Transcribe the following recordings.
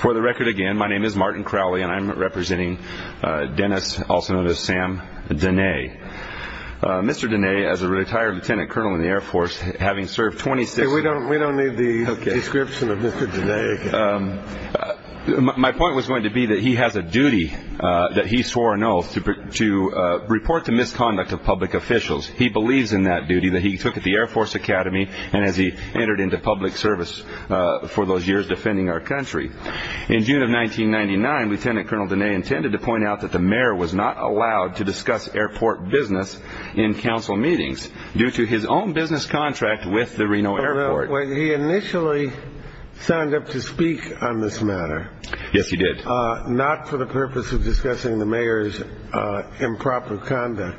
For the record again, my name is Martin Crowley, and I'm representing Dennis, also known as Sam Dehne. Mr. Dehne, as a retired lieutenant colonel in the Air Force, having served 26- Hey, we don't need the description of Mr. Dehne again. My point was going to be that he has a duty that he swore an oath to report to misconduct of public officials. He believes in that duty that he took at the Air Force Academy and as he entered into public service for those years defending our country. In June of 1999, Lt. Col. Dehne intended to point out that the mayor was not allowed to discuss airport business in council meetings due to his own business contract with the Reno Airport. Well, he initially signed up to speak on this matter. Yes, he did. Not for the purpose of discussing the mayor's improper conduct,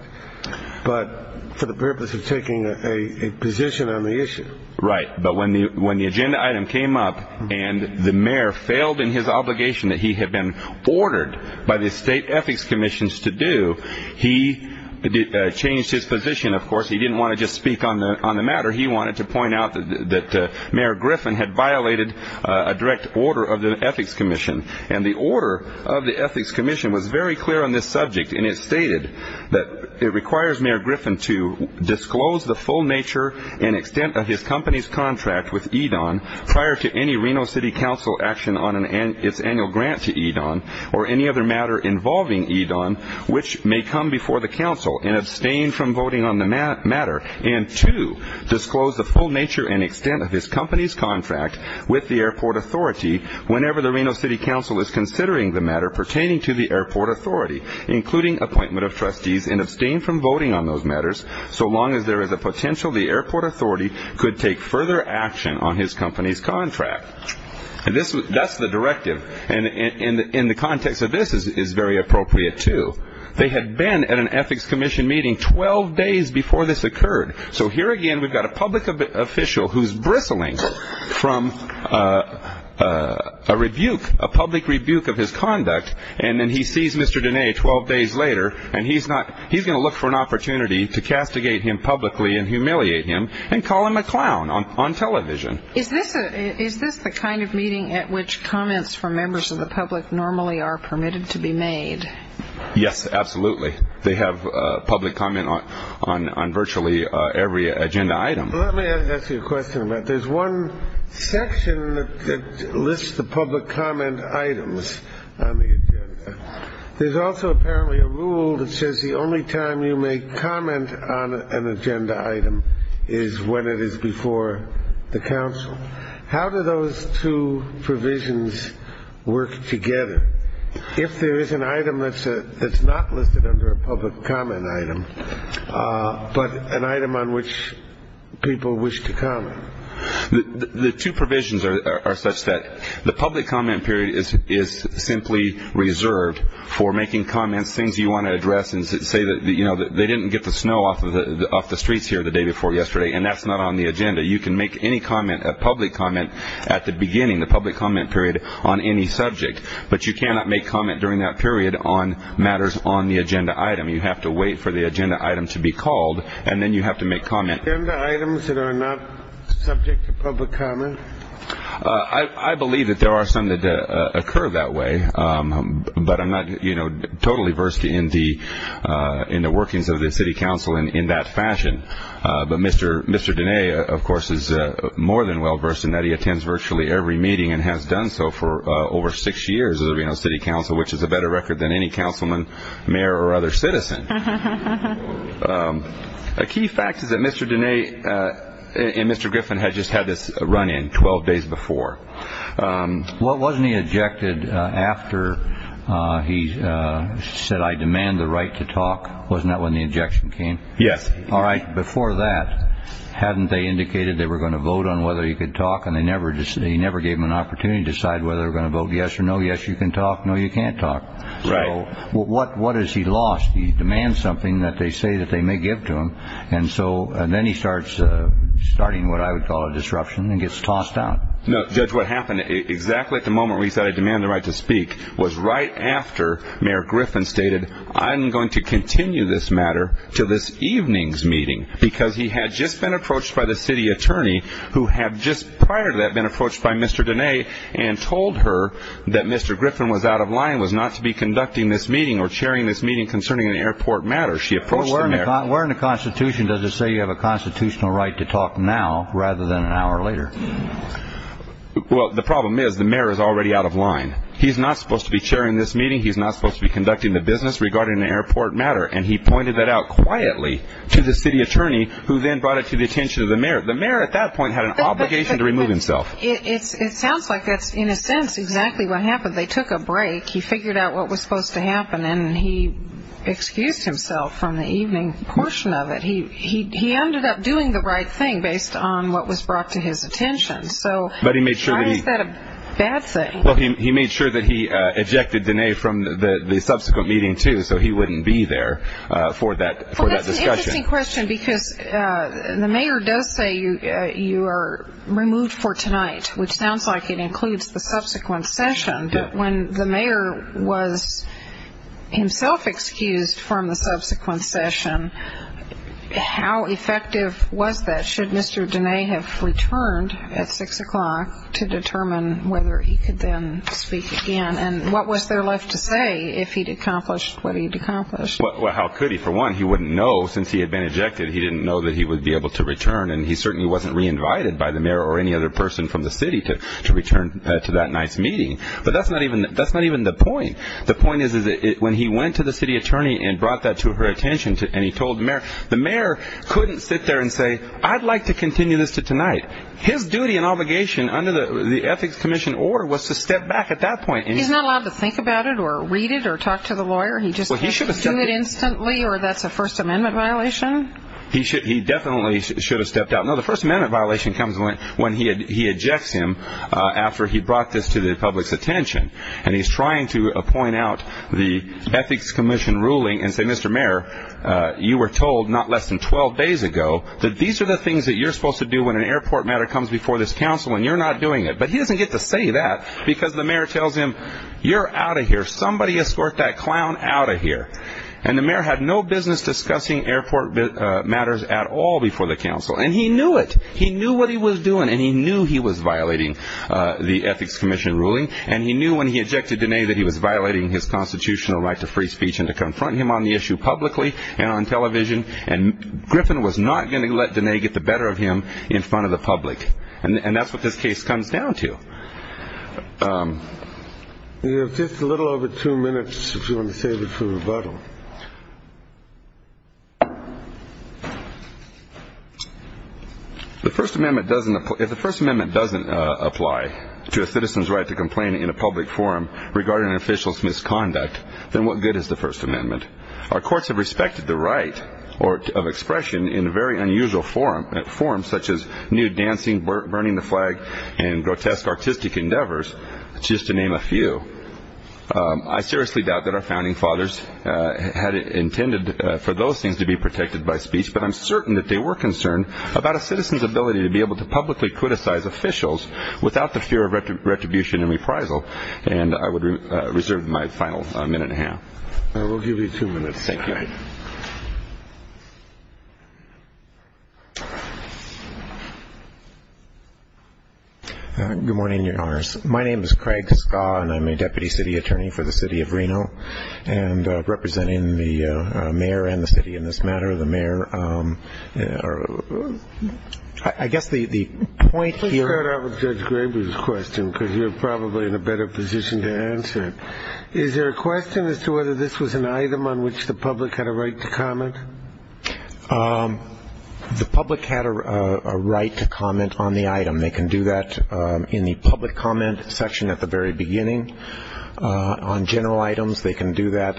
but for the purpose of taking a position on the issue. Right, but when the agenda item came up and the mayor failed in his obligation that he had been ordered by the state ethics commissions to do, he changed his position of course. He didn't want to just speak on the matter. He wanted to point out that Mayor Griffin had violated a direct order of the ethics commission and the order of the ethics commission was very clear on this subject and it stated that it requires Mayor Griffin to disclose the full nature and extent of his company's contract with EDON prior to any Reno City Council action on its annual grant to EDON or any other matter involving EDON which may come before the council and abstain from voting on the matter and to disclose the full nature and extent of his company's contract with the airport authority whenever the Reno City Council is considering the matter pertaining to the airport authority including appointment of trustees and abstain from voting on those matters so long as there is a potential the airport authority could take further action on his company's contract. That's the directive and in the context of this is very appropriate too. They had been at an ethics commission meeting 12 days before this occurred. So here again we've got a public official who's bristling from a rebuke, a public rebuke of his conduct and then he sees Mr. Dene 12 days later and he's going to look for an opportunity to castigate him publicly and humiliate him and call him a clown on television. Is this the kind of meeting at which comments from members of the public normally are permitted to be made? Yes, absolutely. They have public comment on virtually every agenda item. Let me ask you a question about that. There's one section that lists the public comment items on the agenda. There's also apparently a rule that says the only time you may comment on an agenda item is when it is before the council. How do those two provisions work together? If there is an item that's not listed under a public comment item, but an item on which people wish to comment. The two provisions are such that the public comment period is simply reserved for making comments, things you want to address and say that they didn't get the snow off the streets here the day before yesterday and that's not on the agenda. You can make any comment, a public comment at the beginning, the public comment period on any subject, but you cannot make comment during that period on matters on the agenda item. You have to wait for the agenda item to be called and then you have to make comment. Are there items that are not subject to public comment? I believe that there are some that occur that way, but I'm not totally versed in the workings of the city council in that fashion. But Mr. Denea, of course, is more than well versed in that. He attends virtually every meeting and has done so for over six years as a city council, which is a better record than any councilman, mayor, or other citizen. A key fact is that Mr. Denea and Mr. Griffin had just had this run in 12 days before. Wasn't he ejected after he said, I demand the right to talk? Wasn't that when the ejection came? Yes. All right. Before that, hadn't they indicated they were going to vote on whether he could talk and they never gave him an opportunity to decide whether they were going to vote yes or no? Yes, you can talk. No, you can't talk. Right. So what has he lost? He demands something that they say that they may give to him, and then he starts starting what I would call a disruption and gets tossed out. No, Judge, what happened exactly at the moment where he said, I demand the right to speak, was right after Mayor Griffin stated, I'm going to continue this matter to this evening's meeting, because he had just been approached by the city attorney, who had just prior to that been approached by Mr. Denea and told her that Mr. Griffin was out of line, was not to be conducting this meeting or chairing this meeting concerning an airport matter. Where in the Constitution does it say you have a constitutional right to talk now rather than an hour later? Well, the problem is the mayor is already out of line. He's not supposed to be chairing this meeting. He's not supposed to be conducting the business regarding an airport matter, and he pointed that out quietly to the city attorney, who then brought it to the attention of the mayor. The mayor at that point had an obligation to remove himself. It sounds like that's, in a sense, exactly what happened. They took a break. He figured out what was supposed to happen, and he excused himself from the evening portion of it. How is that a bad thing? Well, he made sure that he ejected Denea from the subsequent meeting, too, so he wouldn't be there for that discussion. Well, that's an interesting question, because the mayor does say you are removed for tonight, which sounds like it includes the subsequent session. But when the mayor was himself excused from the subsequent session, how effective was that? Should Mr. Denea have returned at 6 o'clock to determine whether he could then speak again, and what was there left to say if he'd accomplished what he'd accomplished? Well, how could he? For one, he wouldn't know since he had been ejected. He didn't know that he would be able to return, and he certainly wasn't re-invited by the mayor or any other person from the city to return to that night's meeting. But that's not even the point. The point is when he went to the city attorney and brought that to her attention, the mayor couldn't sit there and say, I'd like to continue this to tonight. His duty and obligation under the Ethics Commission order was to step back at that point. He's not allowed to think about it or read it or talk to the lawyer? He just do it instantly, or that's a First Amendment violation? He definitely should have stepped out. No, the First Amendment violation comes when he ejects him after he brought this to the public's attention, and he's trying to point out the Ethics Commission ruling and say, Mr. Mayor, you were told not less than 12 days ago that these are the things that you're supposed to do when an airport matter comes before this council and you're not doing it. But he doesn't get to say that because the mayor tells him, you're out of here. Somebody escort that clown out of here. And the mayor had no business discussing airport matters at all before the council, and he knew it. He knew what he was doing, and he knew he was violating the Ethics Commission ruling, and he knew when he ejected Diné that he was violating his constitutional right to free speech and to confront him on the issue publicly and on television. And Griffin was not going to let Diné get the better of him in front of the public, and that's what this case comes down to. You have just a little over two minutes if you want to save it for rebuttal. If the First Amendment doesn't apply to a citizen's right to complain in a public forum regarding an official's misconduct, then what good is the First Amendment? Our courts have respected the right of expression in very unusual forms, such as nude dancing, burning the flag, and grotesque artistic endeavors, just to name a few. I seriously doubt that our founding fathers had intended for those things to be protected by speech, but I'm certain that they were concerned about a citizen's ability to be able to publicly criticize officials without the fear of retribution and reprisal. And I would reserve my final minute and a half. We'll give you two minutes. Thank you. Good morning, Your Honors. My name is Craig Giscard, and I'm a deputy city attorney for the city of Reno, and representing the mayor and the city in this matter. The mayor or I guess the point here. Let's start off with Judge Graber's question, because you're probably in a better position to answer it. Is there a question as to whether this was an item on which the public had a right to comment? The public had a right to comment on the item. They can do that in the public comment section at the very beginning. On general items, they can do that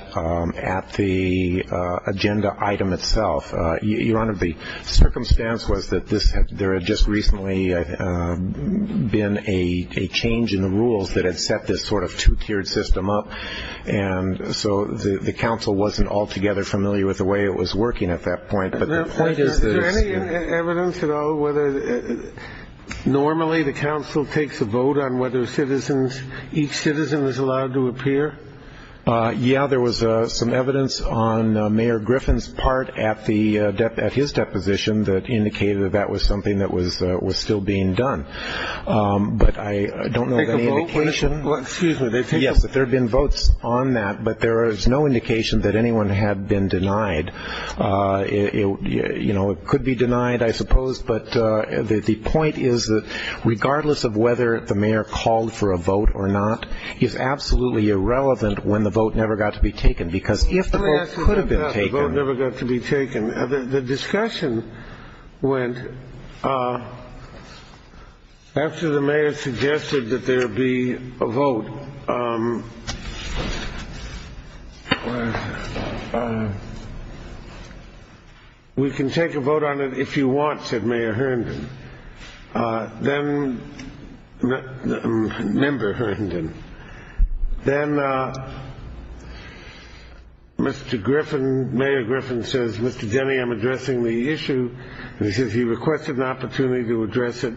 at the agenda item itself. Your Honor, the circumstance was that there had just recently been a change in the rules that had set this sort of two-tiered system up, and so the council wasn't altogether familiar with the way it was working at that point. Is there any evidence at all whether normally the council takes a vote on whether citizens, each citizen is allowed to appear? Yeah, there was some evidence on Mayor Griffin's part at his deposition that indicated that that was something that was still being done. But I don't know of any indication. Excuse me. Yes, there have been votes on that, but there is no indication that anyone had been denied. You know, it could be denied, I suppose, but the point is that regardless of whether the mayor called for a vote or not, it's absolutely irrelevant when the vote never got to be taken, because if the vote could have been taken. Let me ask you about the vote never got to be taken. The discussion went after the mayor suggested that there be a vote. We can take a vote on it if you want, said Mayor Herndon, member Herndon. Then Mayor Griffin says, Mr. Denny, I'm addressing the issue, and he says he requested an opportunity to address it.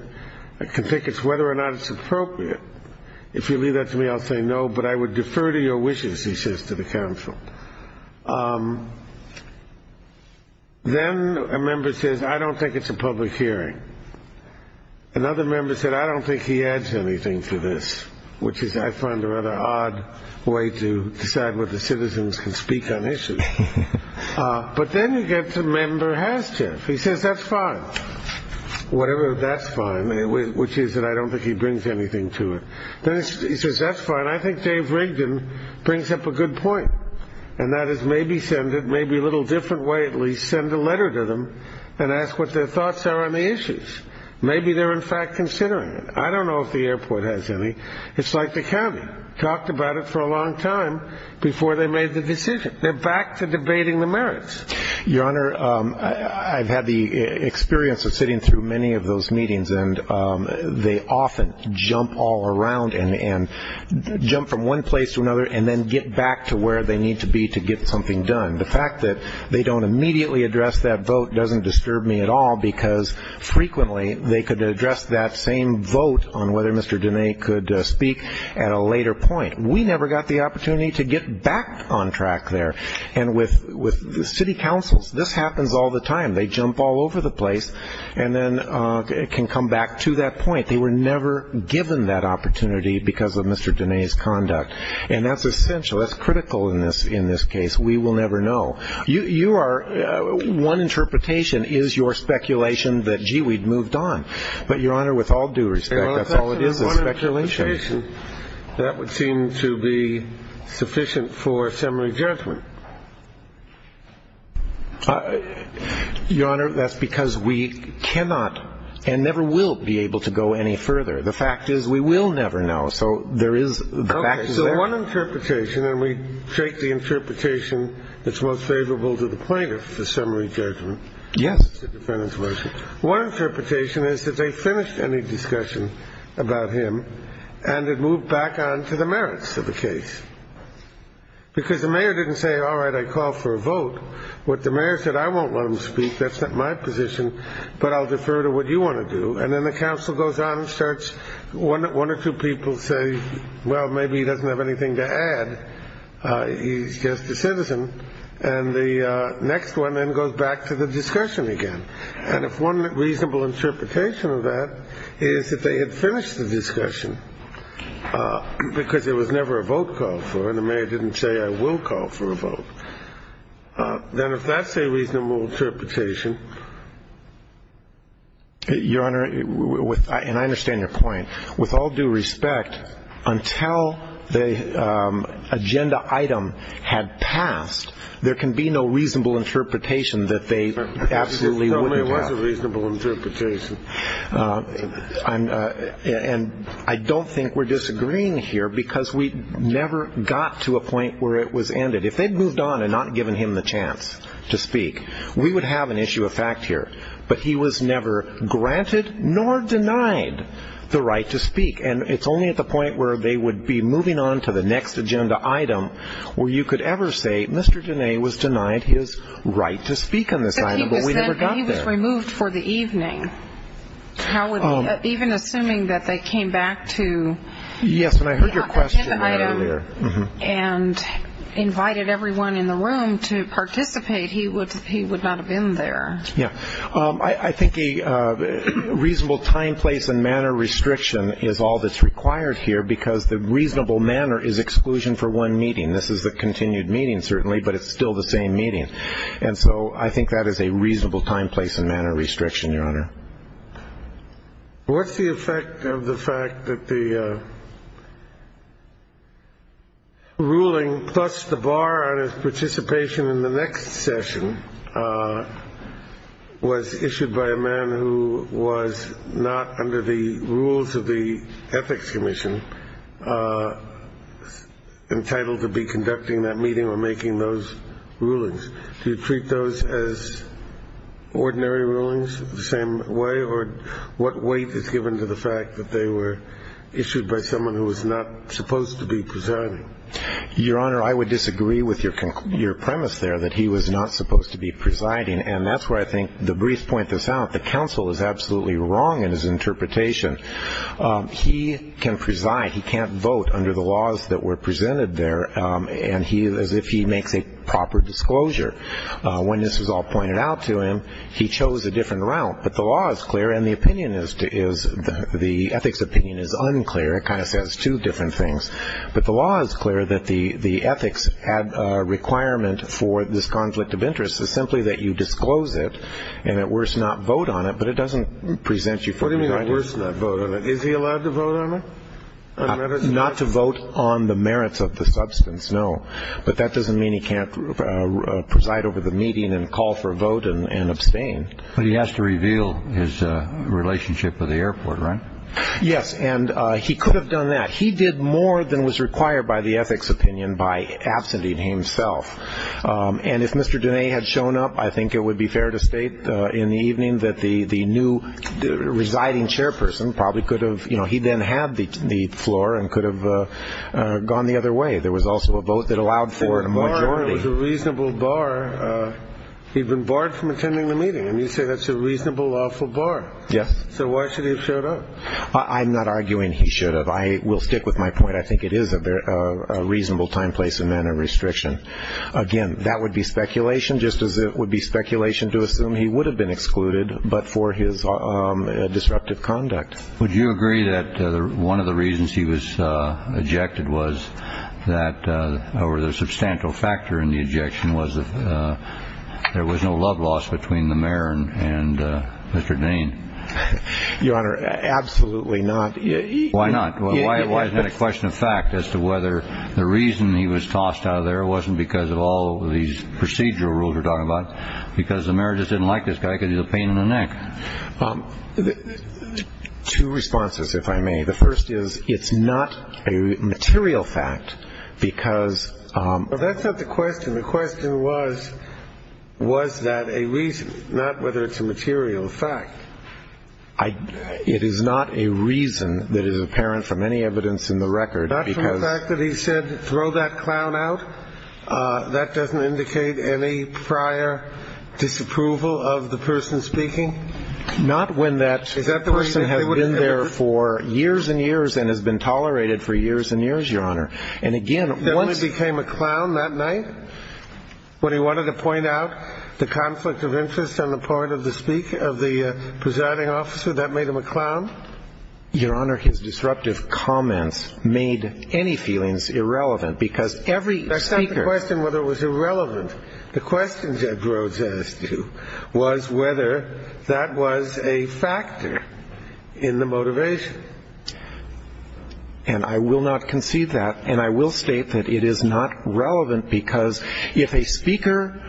I can take it whether or not it's appropriate. If you leave that to me, I'll say no, but I would defer to your wishes, he says to the council. Then a member says, I don't think it's a public hearing. Another member said, I don't think he adds anything to this, which is I find a rather odd way to decide what the citizens can speak on issues. But then you get to member Haschiff. He says, that's fine, whatever that's fine, which is that I don't think he brings anything to it. Then he says, that's fine. I think Dave Rigdon brings up a good point, and that is maybe send it, maybe a little different way at least, send a letter to them and ask what their thoughts are on the issues. Maybe they're in fact considering it. I don't know if the airport has any. It's like the county, talked about it for a long time before they made the decision. They're back to debating the merits. Your Honor, I've had the experience of sitting through many of those meetings, and they often jump all around and jump from one place to another and then get back to where they need to be to get something done. The fact that they don't immediately address that vote doesn't disturb me at all because frequently they could address that same vote on whether Mr. Dene could speak at a later point. We never got the opportunity to get back on track there. And with city councils, this happens all the time. They jump all over the place and then can come back to that point. They were never given that opportunity because of Mr. Dene's conduct. And that's essential. That's critical in this case. We will never know. One interpretation is your speculation that, gee, we'd moved on. But, Your Honor, with all due respect, that's all it is, is speculation. That would seem to be sufficient for assembly judgment. Your Honor, that's because we cannot and never will be able to go any further. The fact is we will never know. So one interpretation, and we take the interpretation that's most favorable to the plaintiff, the summary judgment. Yes. One interpretation is that they finished any discussion about him and had moved back on to the merits of the case because the mayor didn't say, all right, I call for a vote. What the mayor said, I won't let him speak. That's not my position, but I'll defer to what you want to do. And then the counsel goes on and starts one or two people say, well, maybe he doesn't have anything to add. He's just a citizen. And the next one then goes back to the discussion again. And if one reasonable interpretation of that is that they had finished the discussion because there was never a vote called for and the mayor didn't say I will call for a vote, then if that's a reasonable interpretation, Your Honor, and I understand your point, with all due respect, until the agenda item had passed, there can be no reasonable interpretation that they absolutely wouldn't have. No, there was a reasonable interpretation. And I don't think we're disagreeing here because we never got to a point where it was ended. If they'd moved on and not given him the chance to speak, we would have an issue of fact here. But he was never granted nor denied the right to speak. And it's only at the point where they would be moving on to the next agenda item where you could ever say, Mr. Dene was denied his right to speak on this item, but we never got there. But he was removed for the evening. Even assuming that they came back to the agenda item and invited everyone in the room to participate, he would not have been there. Yeah. I think a reasonable time, place, and manner restriction is all that's required here because the reasonable manner is exclusion for one meeting. This is a continued meeting, certainly, but it's still the same meeting. And so I think that is a reasonable time, place, and manner restriction, Your Honor. What's the effect of the fact that the ruling plus the bar on his participation in the next session was issued by a man who was not under the rules of the Ethics Commission entitled to be conducting that meeting or making those rulings? Do you treat those as ordinary rulings, the same way? Or what weight is given to the fact that they were issued by someone who was not supposed to be presiding? Your Honor, I would disagree with your premise there that he was not supposed to be presiding. And that's where I think the briefs point this out. The counsel is absolutely wrong in his interpretation. He can preside. He can't vote under the laws that were presented there. As if he makes a proper disclosure. When this was all pointed out to him, he chose a different route. But the law is clear and the opinion is the ethics opinion is unclear. It kind of says two different things. But the law is clear that the ethics requirement for this conflict of interest is simply that you disclose it and at worst not vote on it, but it doesn't present you for presiding. What do you mean at worst not vote on it? Is he allowed to vote on it? Not to vote on the merits of the substance, no. But that doesn't mean he can't preside over the meeting and call for a vote and abstain. But he has to reveal his relationship with the airport, right? Yes, and he could have done that. He did more than was required by the ethics opinion by absenting himself. And if Mr. Dene had shown up, I think it would be fair to state in the evening that the new residing chairperson probably could have, you know, he then had the floor and could have gone the other way. There was also a vote that allowed for a majority. It was a reasonable bar. He'd been barred from attending the meeting. And you say that's a reasonable, lawful bar. Yes. So why should he have showed up? I'm not arguing he should have. I will stick with my point. I think it is a reasonable time, place, and manner restriction. Again, that would be speculation just as it would be speculation to assume he would have been excluded, but for his disruptive conduct. Would you agree that one of the reasons he was ejected was that, or the substantial factor in the ejection was that there was no love loss between the mayor and Mr. Dene? Your Honor, absolutely not. Why not? Why is that a question of fact as to whether the reason he was tossed out of there wasn't because of all these procedural rules we're talking about, because the mayor just didn't like this guy because he had a pain in the neck? Two responses, if I may. The first is it's not a material fact because of that. That's not the question. The question was, was that a reason, not whether it's a material fact. It is not a reason that is apparent from any evidence in the record. Not from the fact that he said, throw that clown out? That doesn't indicate any prior disapproval of the person speaking? Not when that person has been there for years and years and has been tolerated for years and years, Your Honor. And again, once he became a clown that night when he wanted to point out the conflict of interest on the part of the speaking, of the presiding officer, that made him a clown? Your Honor, his disruptive comments made any feelings irrelevant, because every speaker That's not the question whether it was irrelevant. The question, Judge Rhodes asked you, was whether that was a factor in the motivation. And I will not concede that, and I will state that it is not relevant because if a speaker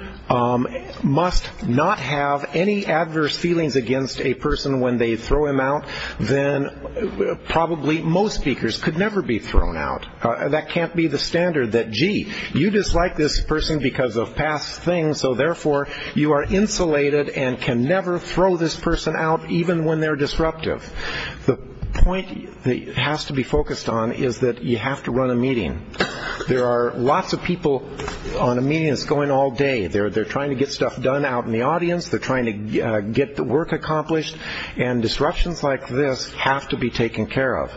must not have any adverse feelings against a person when they throw him out, then probably most speakers could never be thrown out. That can't be the standard that, gee, you dislike this person because of past things, so therefore you are insulated and can never throw this person out even when they're disruptive. The point that has to be focused on is that you have to run a meeting. There are lots of people on a meeting that's going all day. They're trying to get the work accomplished, and disruptions like this have to be taken care of.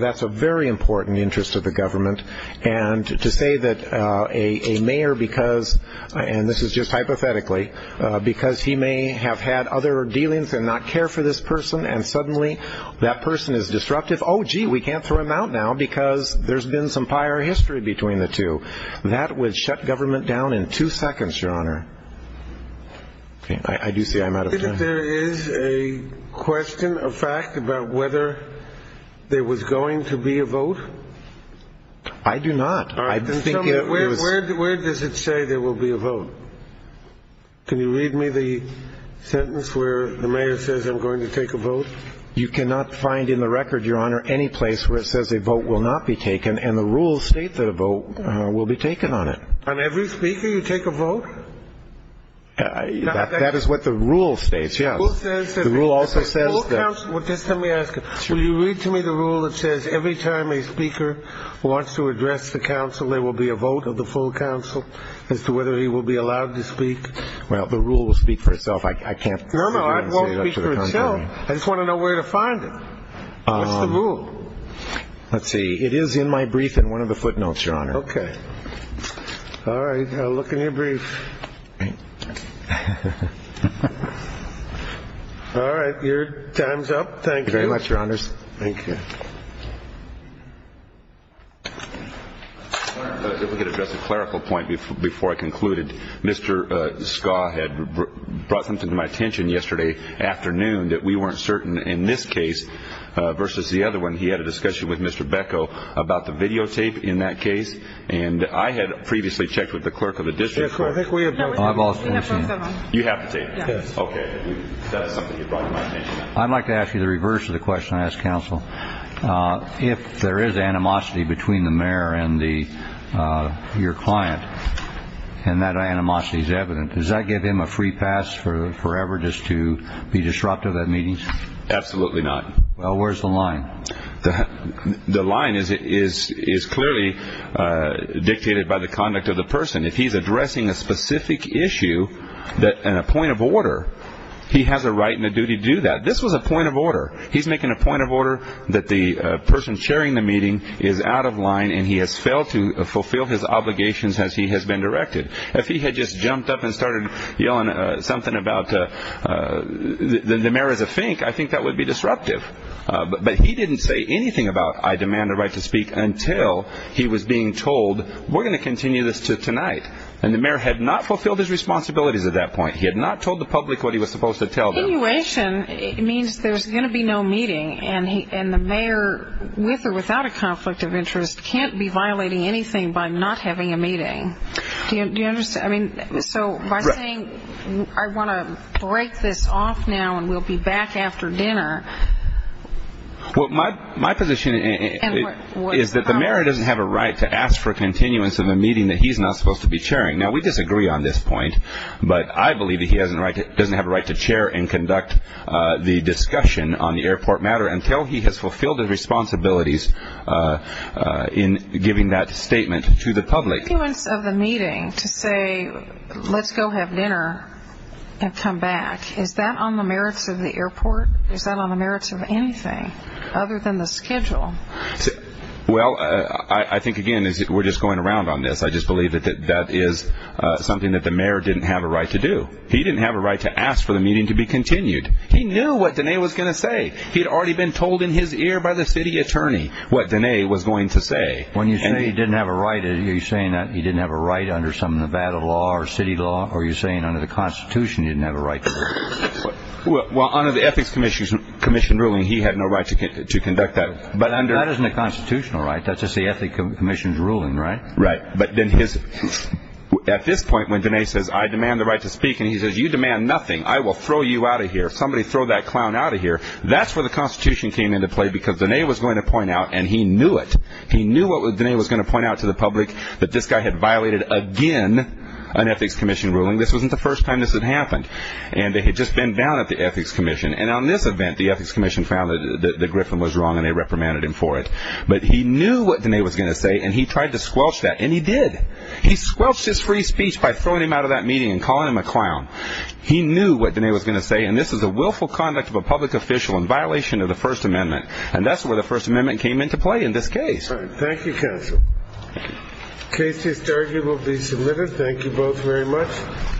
That's a very important interest of the government. And to say that a mayor because, and this is just hypothetically, because he may have had other dealings and not cared for this person, and suddenly that person is disruptive, oh, gee, we can't throw him out now because there's been some prior history between the two. That would shut government down in two seconds, Your Honor. I do see I'm out of time. There is a question, a fact, about whether there was going to be a vote. I do not. Where does it say there will be a vote? Can you read me the sentence where the mayor says I'm going to take a vote? You cannot find in the record, Your Honor, any place where it says a vote will not be taken, and the rules state that a vote will be taken on it. On every speaker you take a vote? That is what the rule states, yes. The rule also says that. Well, just let me ask you. Will you read to me the rule that says every time a speaker wants to address the council, there will be a vote of the full council as to whether he will be allowed to speak? Well, the rule will speak for itself. I can't disagree and say it up to the contrary. No, no, it won't speak for itself. I just want to know where to find it. What's the rule? Let's see. It is in my brief in one of the footnotes, Your Honor. Okay. All right. I'll look in your brief. All right. Your time's up. Thank you very much, Your Honors. Thank you. If we could address a clerical point before I concluded. Mr. Ska had brought something to my attention yesterday afternoon that we weren't certain in this case versus the other one. He had a discussion with Mr. Beko about the videotape in that case, and I had previously checked with the clerk of the district court. I've also seen it. You have the tape? Yes. Okay. That is something he brought to my attention. I'd like to ask you the reverse of the question I asked counsel. If there is animosity between the mayor and your client, and that animosity is evident, does that give him a free pass forever just to be disruptive at meetings? Absolutely not. Well, where's the line? The line is clearly dictated by the conduct of the person. If he's addressing a specific issue and a point of order, he has a right and a duty to do that. This was a point of order. He's making a point of order that the person chairing the meeting is out of line and he has failed to fulfill his obligations as he has been directed. If he had just jumped up and started yelling something about the mayor is a fink, I think that would be disruptive. But he didn't say anything about I demand a right to speak until he was being told, we're going to continue this to tonight. And the mayor had not fulfilled his responsibilities at that point. He had not told the public what he was supposed to tell them. Continuation means there's going to be no meeting, and the mayor, with or without a conflict of interest, can't be violating anything by not having a meeting. Do you understand? I mean, so by saying I want to break this off now and we'll be back after dinner. Well, my position is that the mayor doesn't have a right to ask for continuance of a meeting that he's not supposed to be chairing. Now, we disagree on this point, but I believe that he doesn't have a right to chair and conduct the discussion on the airport matter until he has fulfilled his responsibilities in giving that statement to the public. Continuance of the meeting to say let's go have dinner and come back, is that on the merits of the airport? Is that on the merits of anything other than the schedule? Well, I think, again, we're just going around on this. I just believe that that is something that the mayor didn't have a right to do. He didn't have a right to ask for the meeting to be continued. He knew what Diné was going to say. He'd already been told in his ear by the city attorney what Diné was going to say. When you say he didn't have a right, are you saying that he didn't have a right under some Nevada law or city law, or are you saying under the Constitution he didn't have a right? Well, under the Ethics Commission's ruling, he had no right to conduct that. That isn't a constitutional right. That's just the Ethics Commission's ruling, right? Right. But at this point when Diné says I demand the right to speak and he says you demand nothing, I will throw you out of here, somebody throw that clown out of here, that's where the Constitution came into play because Diné was going to point out, and he knew it, he knew what Diné was going to point out to the public, that this guy had violated, again, an Ethics Commission ruling. This wasn't the first time this had happened. And they had just been down at the Ethics Commission. And on this event, the Ethics Commission found that Griffin was wrong and they reprimanded him for it. But he knew what Diné was going to say and he tried to squelch that, and he did. He squelched his free speech by throwing him out of that meeting and calling him a clown. He knew what Diné was going to say. And this is a willful conduct of a public official in violation of the First Amendment. And that's where the First Amendment came into play in this case. Thank you, counsel. The case to be submitted. Thank you both very much.